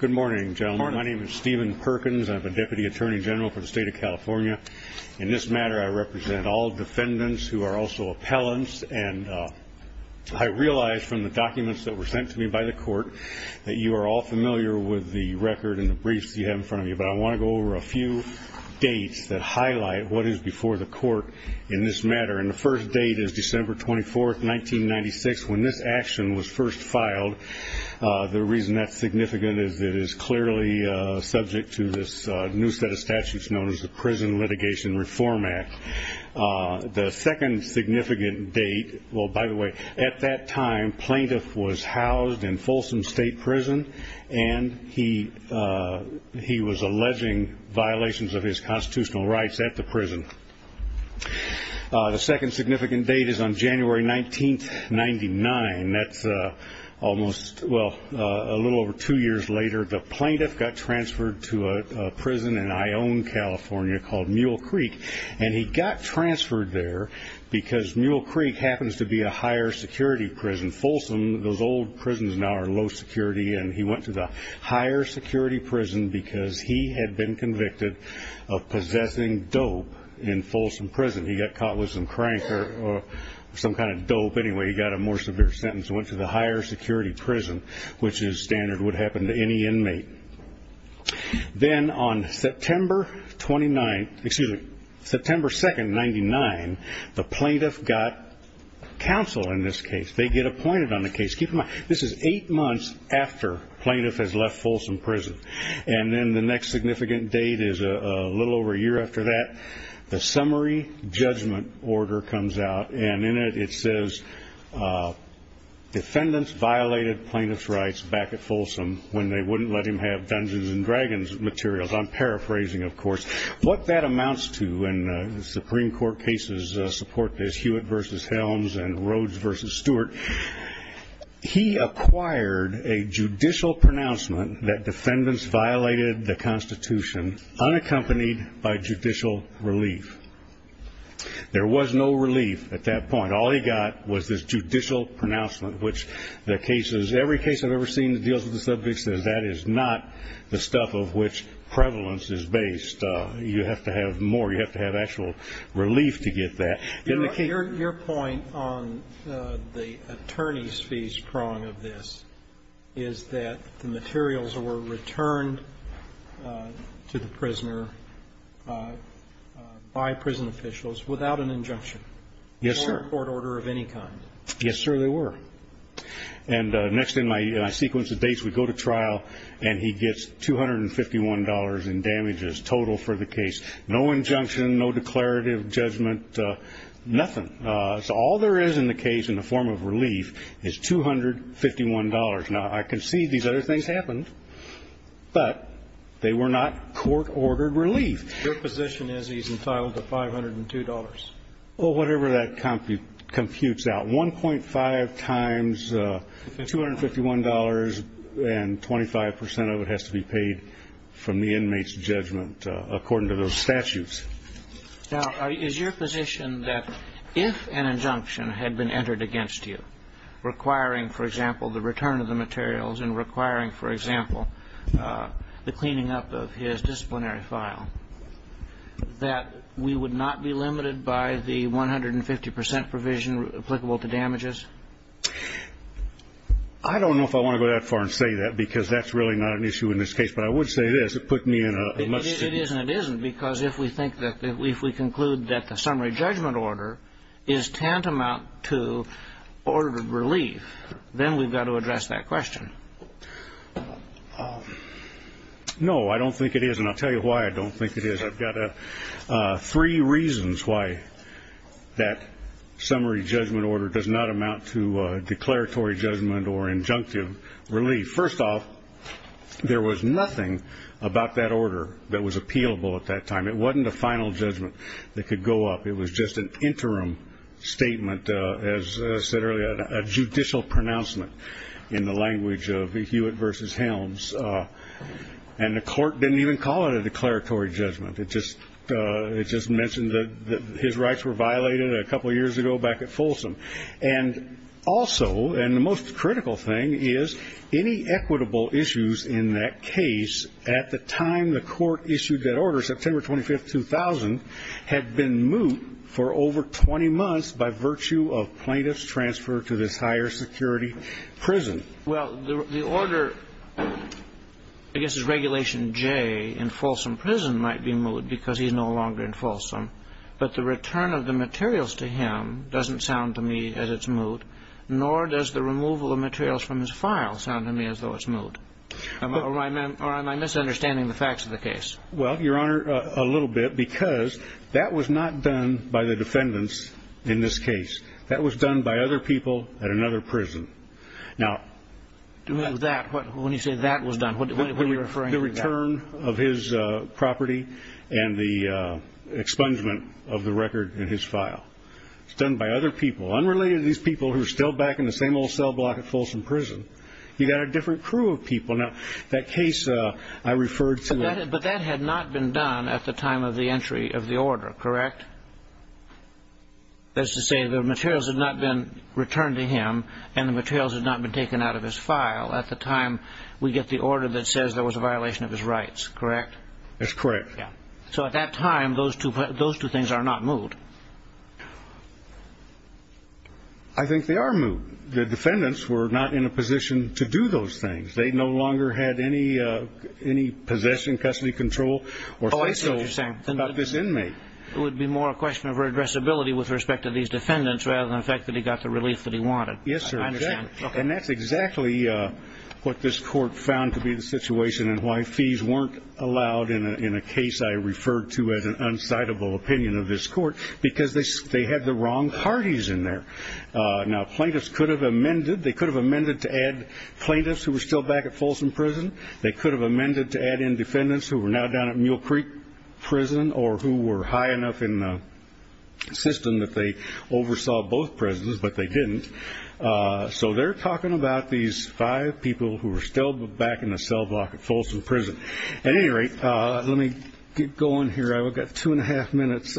Good morning, gentlemen. My name is Stephen Perkins. I'm a Deputy Attorney General for the State of California. In this matter, I represent all defendants who are also appellants. And I realize from the documents that were sent to me by the court that you are all familiar with the record and the briefs you have in front of you. But I want to go over a few dates that highlight what is before the court in this matter. And the first date is December 24, 1996, when this action was first filed. The reason that's significant is it is clearly subject to this new set of statutes known as the Prison Litigation Reform Act. The second significant date – well, by the way, at that time, plaintiff was housed in Folsom State Prison, and he was alleging violations of his constitutional rights at the prison. The second significant date is on January 19, 1999. That's a little over two years later. The plaintiff got transferred to a prison in Ione, California, called Mule Creek. And he got transferred there because Mule Creek happens to be a higher security prison. Folsom, those old prisons now are low security. And he went to the higher security prison because he had been convicted of possessing dope in Folsom Prison. He got caught with some crank or some kind of dope. Anyway, he got a more severe sentence and went to the higher security prison, which is standard would happen to any inmate. Then on September 2, 1999, the plaintiff got counsel in this case. They get appointed on the case. Keep in mind, this is eight months after plaintiff has left Folsom Prison. And then the next significant date is a little over a year after that. The summary judgment order comes out, and in it, it says defendants violated plaintiff's rights back at Folsom when they wouldn't let him have Dungeons & Dragons materials. I'm paraphrasing, of course. What that amounts to, and the Supreme Court cases support this, Hewitt v. Helms and Rhodes v. Stewart, he acquired a judicial pronouncement that defendants violated the Constitution unaccompanied by judicial relief. There was no relief at that point. All he got was this judicial pronouncement, which the cases, every case I've ever seen that deals with the subject, the stuff of which prevalence is based. You have to have more. You have to have actual relief to get that. Your point on the attorney's fees prong of this is that the materials were returned to the prisoner by prison officials without an injunction. Yes, sir. Or a court order of any kind. Yes, sir, they were. And next in my sequence of dates, we go to trial, and he gets $251 in damages total for the case. No injunction, no declarative judgment, nothing. So all there is in the case in the form of relief is $251. Now, I concede these other things happened, but they were not court-ordered relief. Your position is he's entitled to $502. Well, whatever that computes out, $1.5 times $251, and 25 percent of it has to be paid from the inmate's judgment according to those statutes. Now, is your position that if an injunction had been entered against you requiring, for example, the return of the materials and requiring, for example, the cleaning up of his disciplinary file, that we would not be limited by the 150 percent provision applicable to damages? I don't know if I want to go that far and say that because that's really not an issue in this case, but I would say it is. It put me in a much different position. It is and it isn't because if we conclude that the summary judgment order is tantamount to ordered relief, then we've got to address that question. No, I don't think it is, and I'll tell you why I don't think it is. I've got three reasons why that summary judgment order does not amount to declaratory judgment or injunctive relief. First off, there was nothing about that order that was appealable at that time. It wasn't a final judgment that could go up. It was just an interim statement, as I said earlier, a judicial pronouncement in the language of Hewitt versus Helms, and the court didn't even call it a declaratory judgment. It just mentioned that his rights were violated a couple of years ago back at Folsom. And also, and the most critical thing, is any equitable issues in that case at the time the court issued that order, which is September 25, 2000, had been moot for over 20 months by virtue of plaintiff's transfer to this higher security prison. Well, the order, I guess it's Regulation J in Folsom Prison might be moot because he's no longer in Folsom, but the return of the materials to him doesn't sound to me as it's moot, nor does the removal of materials from his file sound to me as though it's moot. Or am I misunderstanding the facts of the case? Well, Your Honor, a little bit, because that was not done by the defendants in this case. That was done by other people at another prison. Now, When you say that was done, what are you referring to? The return of his property and the expungement of the record in his file. It's done by other people, unrelated to these people who are still back in the same old cell block at Folsom Prison. You got a different crew of people. Now, that case I referred to But that had not been done at the time of the entry of the order, correct? That's to say the materials had not been returned to him and the materials had not been taken out of his file. At the time, we get the order that says there was a violation of his rights, correct? That's correct. Yeah. So at that time, those two things are not moot. I think they are moot. The defendants were not in a position to do those things. They no longer had any possession, custody control, or face control about this inmate. It would be more a question of addressability with respect to these defendants rather than the fact that he got the relief that he wanted. Yes, sir. And that's exactly what this court found to be the situation and why fees weren't allowed in a case I referred to as an unsightable opinion of this court. Because they had the wrong parties in there. Now, plaintiffs could have amended. They could have amended to add plaintiffs who were still back at Folsom Prison. They could have amended to add in defendants who were now down at Mule Creek Prison or who were high enough in the system that they oversaw both prisons, but they didn't. So they're talking about these five people who were still back in the cell block at Folsom Prison. At any rate, let me get going here. I've got two and a half minutes.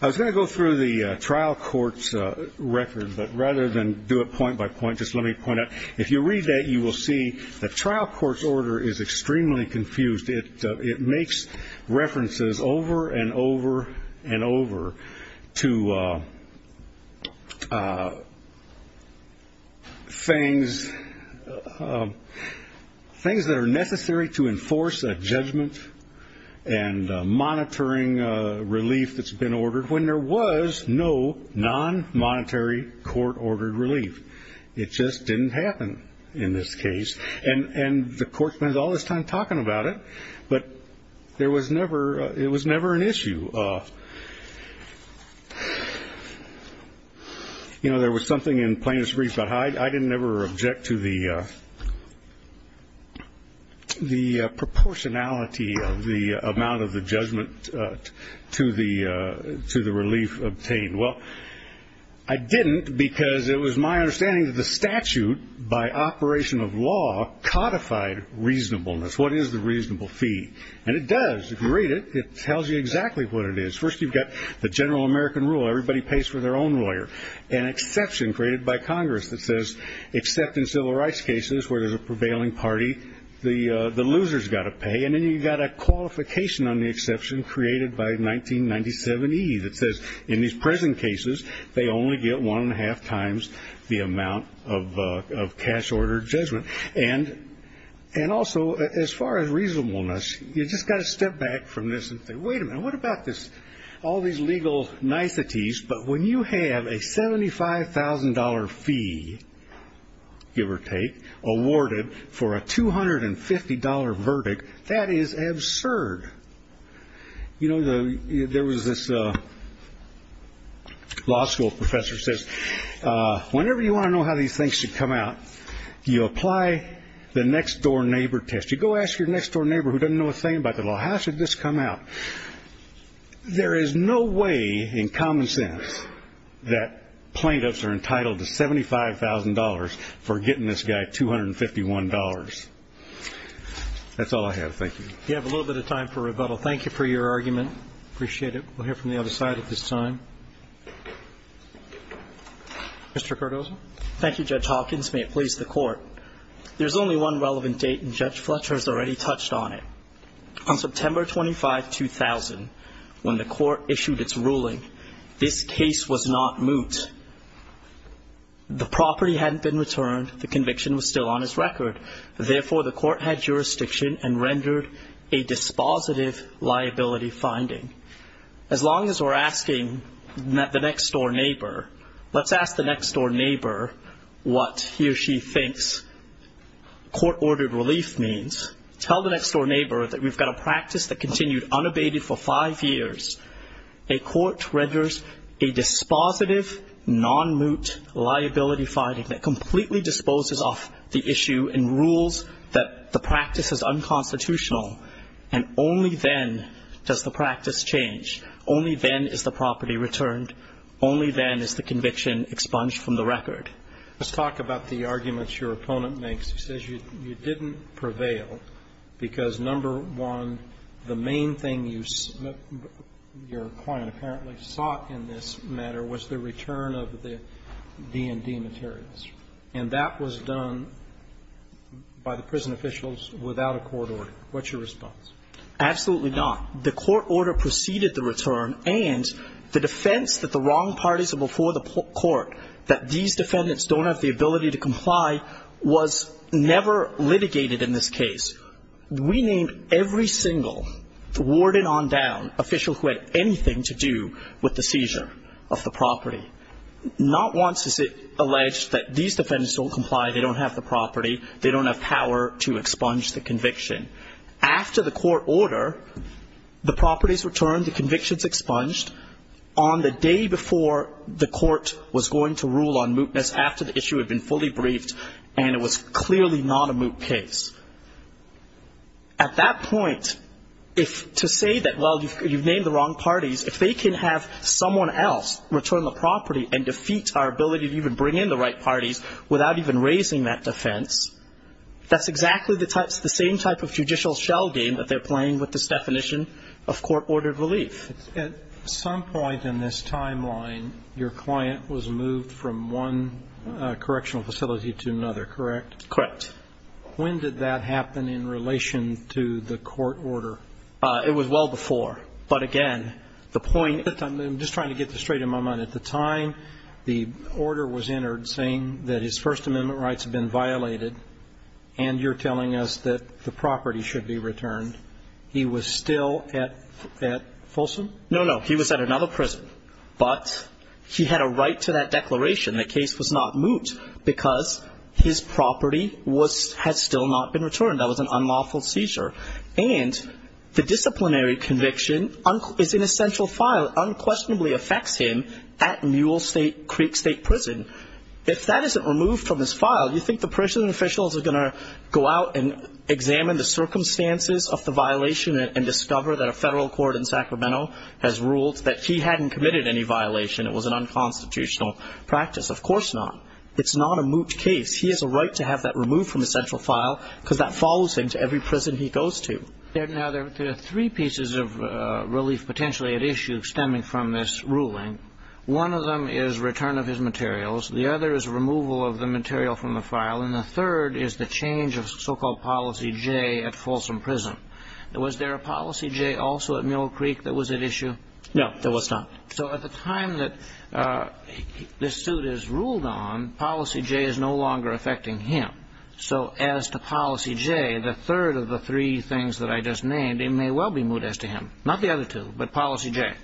I was going to go through the trial court's record, but rather than do it point by point, just let me point out, if you read that, you will see the trial court's order is extremely confused. It makes references over and over and over to things that are necessary to enforce a judgment and monitoring relief that's been ordered when there was no non-monetary court-ordered relief. It just didn't happen in this case. And the court spent all this time talking about it, but it was never an issue. There was something in plaintiffs' briefs about how I didn't ever object to the proportionality of the amount of the judgment to the relief obtained. Well, I didn't because it was my understanding that the statute by operation of law codified reasonableness. What is the reasonable fee? And it does. If you read it, it tells you exactly what it is. First, you've got the general American rule. Everybody pays for their own lawyer, an exception created by Congress that says, except in civil rights cases where there's a prevailing party, the loser's got to pay. And then you've got a qualification on the exception created by 1997E that says, in these present cases, they only get one-and-a-half times the amount of cash-ordered judgment. And also, as far as reasonableness, you've just got to step back from this and say, wait a minute, what about this? All these legal niceties, but when you have a $75,000 fee, give or take, awarded for a $250 verdict, that is absurd. You know, there was this law school professor who says, whenever you want to know how these things should come out, you apply the next-door neighbor test. You go ask your next-door neighbor who doesn't know a thing about the law, how should this come out? There is no way in common sense that plaintiffs are entitled to $75,000 for getting this guy $251. That's all I have. Thank you. You have a little bit of time for rebuttal. Thank you for your argument. Appreciate it. We'll hear from the other side at this time. Mr. Cardozo. Thank you, Judge Hawkins. May it please the Court. There's only one relevant date, and Judge Fletcher has already touched on it. On September 25, 2000, when the Court issued its ruling, this case was not moot. The property hadn't been returned. The conviction was still on its record. Therefore, the Court had jurisdiction and rendered a dispositive liability finding. As long as we're asking the next-door neighbor, let's ask the next-door neighbor what he or she thinks court-ordered relief means. Tell the next-door neighbor that we've got a practice that continued unabated for five years. A court renders a dispositive, non-moot liability finding that completely disposes off the issue and rules that the practice is unconstitutional, and only then does the practice change. Only then is the property returned. Only then is the conviction expunged from the record. Let's talk about the arguments your opponent makes. He says you didn't prevail because, number one, the main thing you saw in this matter was the return of the D&D materials. And that was done by the prison officials without a court order. What's your response? Absolutely not. The court order preceded the return and the defense that the wrong parties are before the court, that these defendants don't have the ability to comply, was never litigated in this case. We named every single warden on down official who had anything to do with the seizure of the property. Not once is it alleged that these defendants don't comply, they don't have the property, they don't have power to expunge the conviction. After the court order, the property is returned, the conviction is expunged, on the day before the court was going to rule on mootness after the issue had been fully briefed and it was clearly not a moot case. At that point, to say that, well, you've named the wrong parties, if they can have someone else return the property and defeat our ability to even bring in the right parties without even raising that defense, that's exactly the same type of judicial shell game that they're playing with this definition of court-ordered relief. At some point in this timeline, your client was moved from one correctional facility to another, correct? Correct. When did that happen in relation to the court order? It was well before. But, again, the point at this time, I'm just trying to get this straight in my mind. At the time the order was entered saying that his First Amendment rights had been violated and you're telling us that the property should be returned, he was still at Folsom? No, no. He was at another prison. But he had a right to that declaration. The case was not moot because his property had still not been returned. That was an unlawful seizure. And the disciplinary conviction is in a central file. It unquestionably affects him at Mule Creek State Prison. If that isn't removed from his file, you think the prison officials are going to go out and examine the circumstances of the violation and discover that a federal court in Sacramento has ruled that he hadn't committed any violation. It was an unconstitutional practice. Of course not. It's not a moot case. He has a right to have that removed from the central file because that follows him to every prison he goes to. Now, there are three pieces of relief potentially at issue stemming from this ruling. One of them is return of his materials. The other is removal of the material from the file. And the third is the change of so-called policy J at Folsom Prison. Was there a policy J also at Mule Creek that was at issue? No, there was not. So at the time that this suit is ruled on, policy J is no longer affecting him. So as to policy J, the third of the three things that I just named, it may well be moot as to him. Not the other two, but policy J.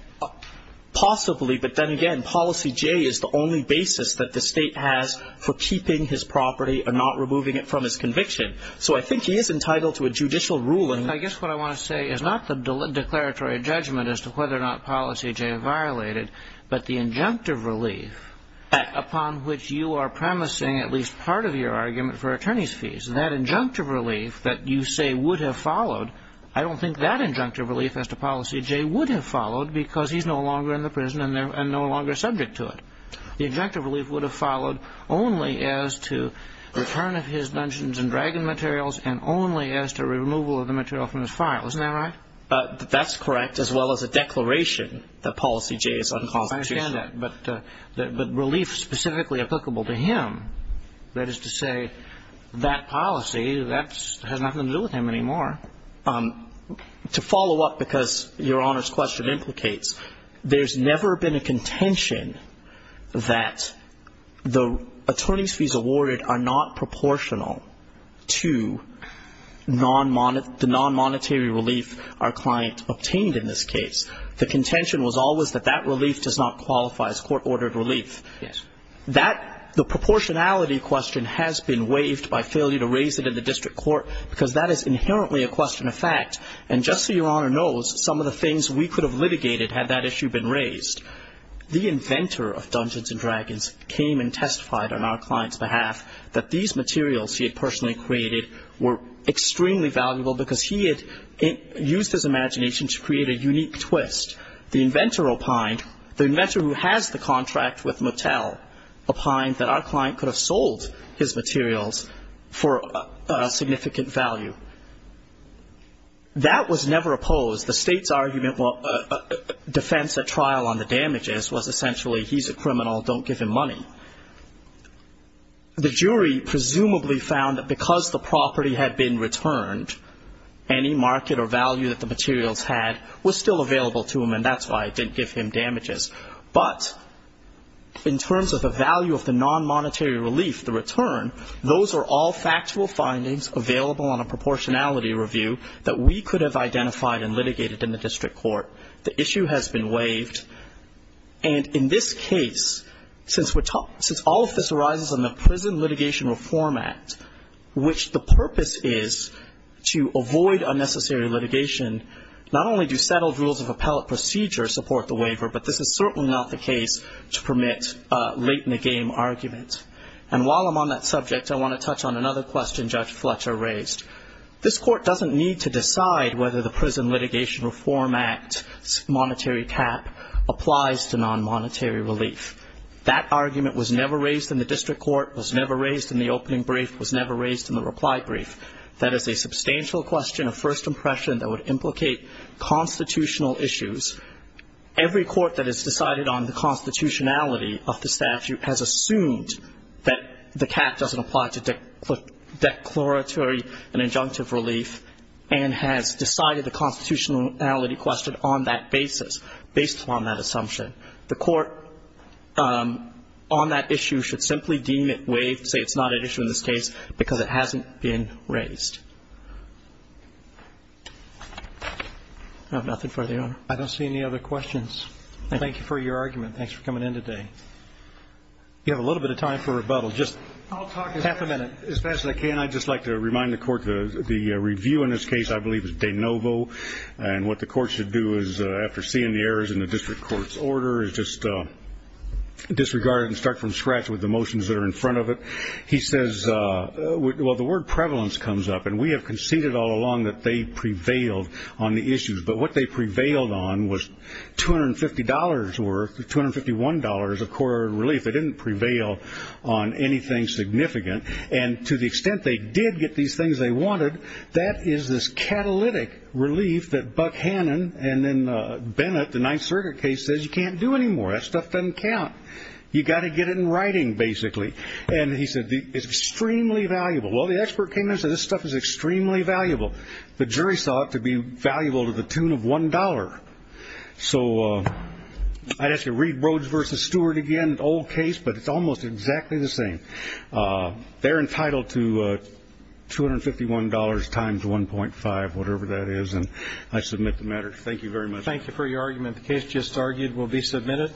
Possibly, but then again, policy J is the only basis that the state has for keeping his property and not removing it from his conviction. So I think he is entitled to a judicial ruling. I guess what I want to say is not the declaratory judgment as to whether or not policy J violated, but the injunctive relief upon which you are promising at least part of your argument for attorney's fees. That injunctive relief that you say would have followed, I don't think that injunctive relief as to policy J would have followed because he's no longer in the prison and no longer subject to it. The injunctive relief would have followed only as to return of his dungeons and dragon materials and only as to removal of the material from his file. Isn't that right? That's correct, as well as a declaration that policy J is unconstitutional. I understand that. But relief specifically applicable to him, that is to say that policy, that has nothing to do with him anymore. To follow up, because Your Honor's question implicates, there's never been a contention that the attorney's fees awarded are not proportional to the non-monetary relief our client obtained in this case. The contention was always that that relief does not qualify as court-ordered relief. Yes. The proportionality question has been waived by failure to raise it in the district court because that is inherently a question of fact. And just so Your Honor knows, some of the things we could have litigated had that issue been raised. The inventor of dungeons and dragons came and testified on our client's behalf that these materials he had personally created were extremely valuable because he had used his imagination to create a unique twist. The inventor opined, the inventor who has the contract with Mattel, opined that our client could have sold his materials for a significant value. That was never opposed. The State's argument, defense at trial on the damages, was essentially he's a criminal, don't give him money. The jury presumably found that because the property had been returned, any market or value that the materials had was still available to him, and that's why it didn't give him damages. But in terms of the value of the non-monetary relief, the return, those are all factual findings available on a proportionality review that we could have identified and litigated in the district court. The issue has been waived. And in this case, since all of this arises in the Prison Litigation Reform Act, which the purpose is to avoid unnecessary litigation, not only do settled rules of appellate procedure support the waiver, but this is certainly not the case to permit late-in-the-game arguments. And while I'm on that subject, I want to touch on another question Judge Fletcher raised. This court doesn't need to decide whether the Prison Litigation Reform Act's monetary cap applies to non-monetary relief. That argument was never raised in the district court, was never raised in the opening brief, was never raised in the reply brief. That is a substantial question of first impression that would implicate constitutional issues. Every court that has decided on the constitutionality of the statute has assumed that the cap doesn't apply to declaratory and injunctive relief and has decided the constitutionality question on that basis, based on that assumption. The court on that issue should simply deem it waived, say it's not an issue in this case, because it hasn't been raised. I have nothing further, Your Honor. I don't see any other questions. Thank you for your argument. Thanks for coming in today. You have a little bit of time for rebuttal, just half a minute. I'll talk as fast as I can. I'd just like to remind the court the review in this case, I believe, is de novo, and what the court should do is, after seeing the errors in the district court's order, is just disregard it and start from scratch with the motions that are in front of it. He says, well, the word prevalence comes up, and we have conceded all along that they prevailed on the issues. But what they prevailed on was $250 worth, $251 of court relief. They didn't prevail on anything significant. And to the extent they did get these things they wanted, that is this catalytic relief that Buck Hannon and then Bennett, the Ninth Circuit case, says you can't do anymore. That stuff doesn't count. You've got to get it in writing, basically. And he said it's extremely valuable. Well, the expert came in and said this stuff is extremely valuable. The jury saw it to be valuable to the tune of $1. So I'd ask you to read Rhoades v. Stewart again, an old case, but it's almost exactly the same. They're entitled to $251 times 1.5, whatever that is, and I submit the matter. Thank you very much. Thank you for your argument. The case just argued will be submitted.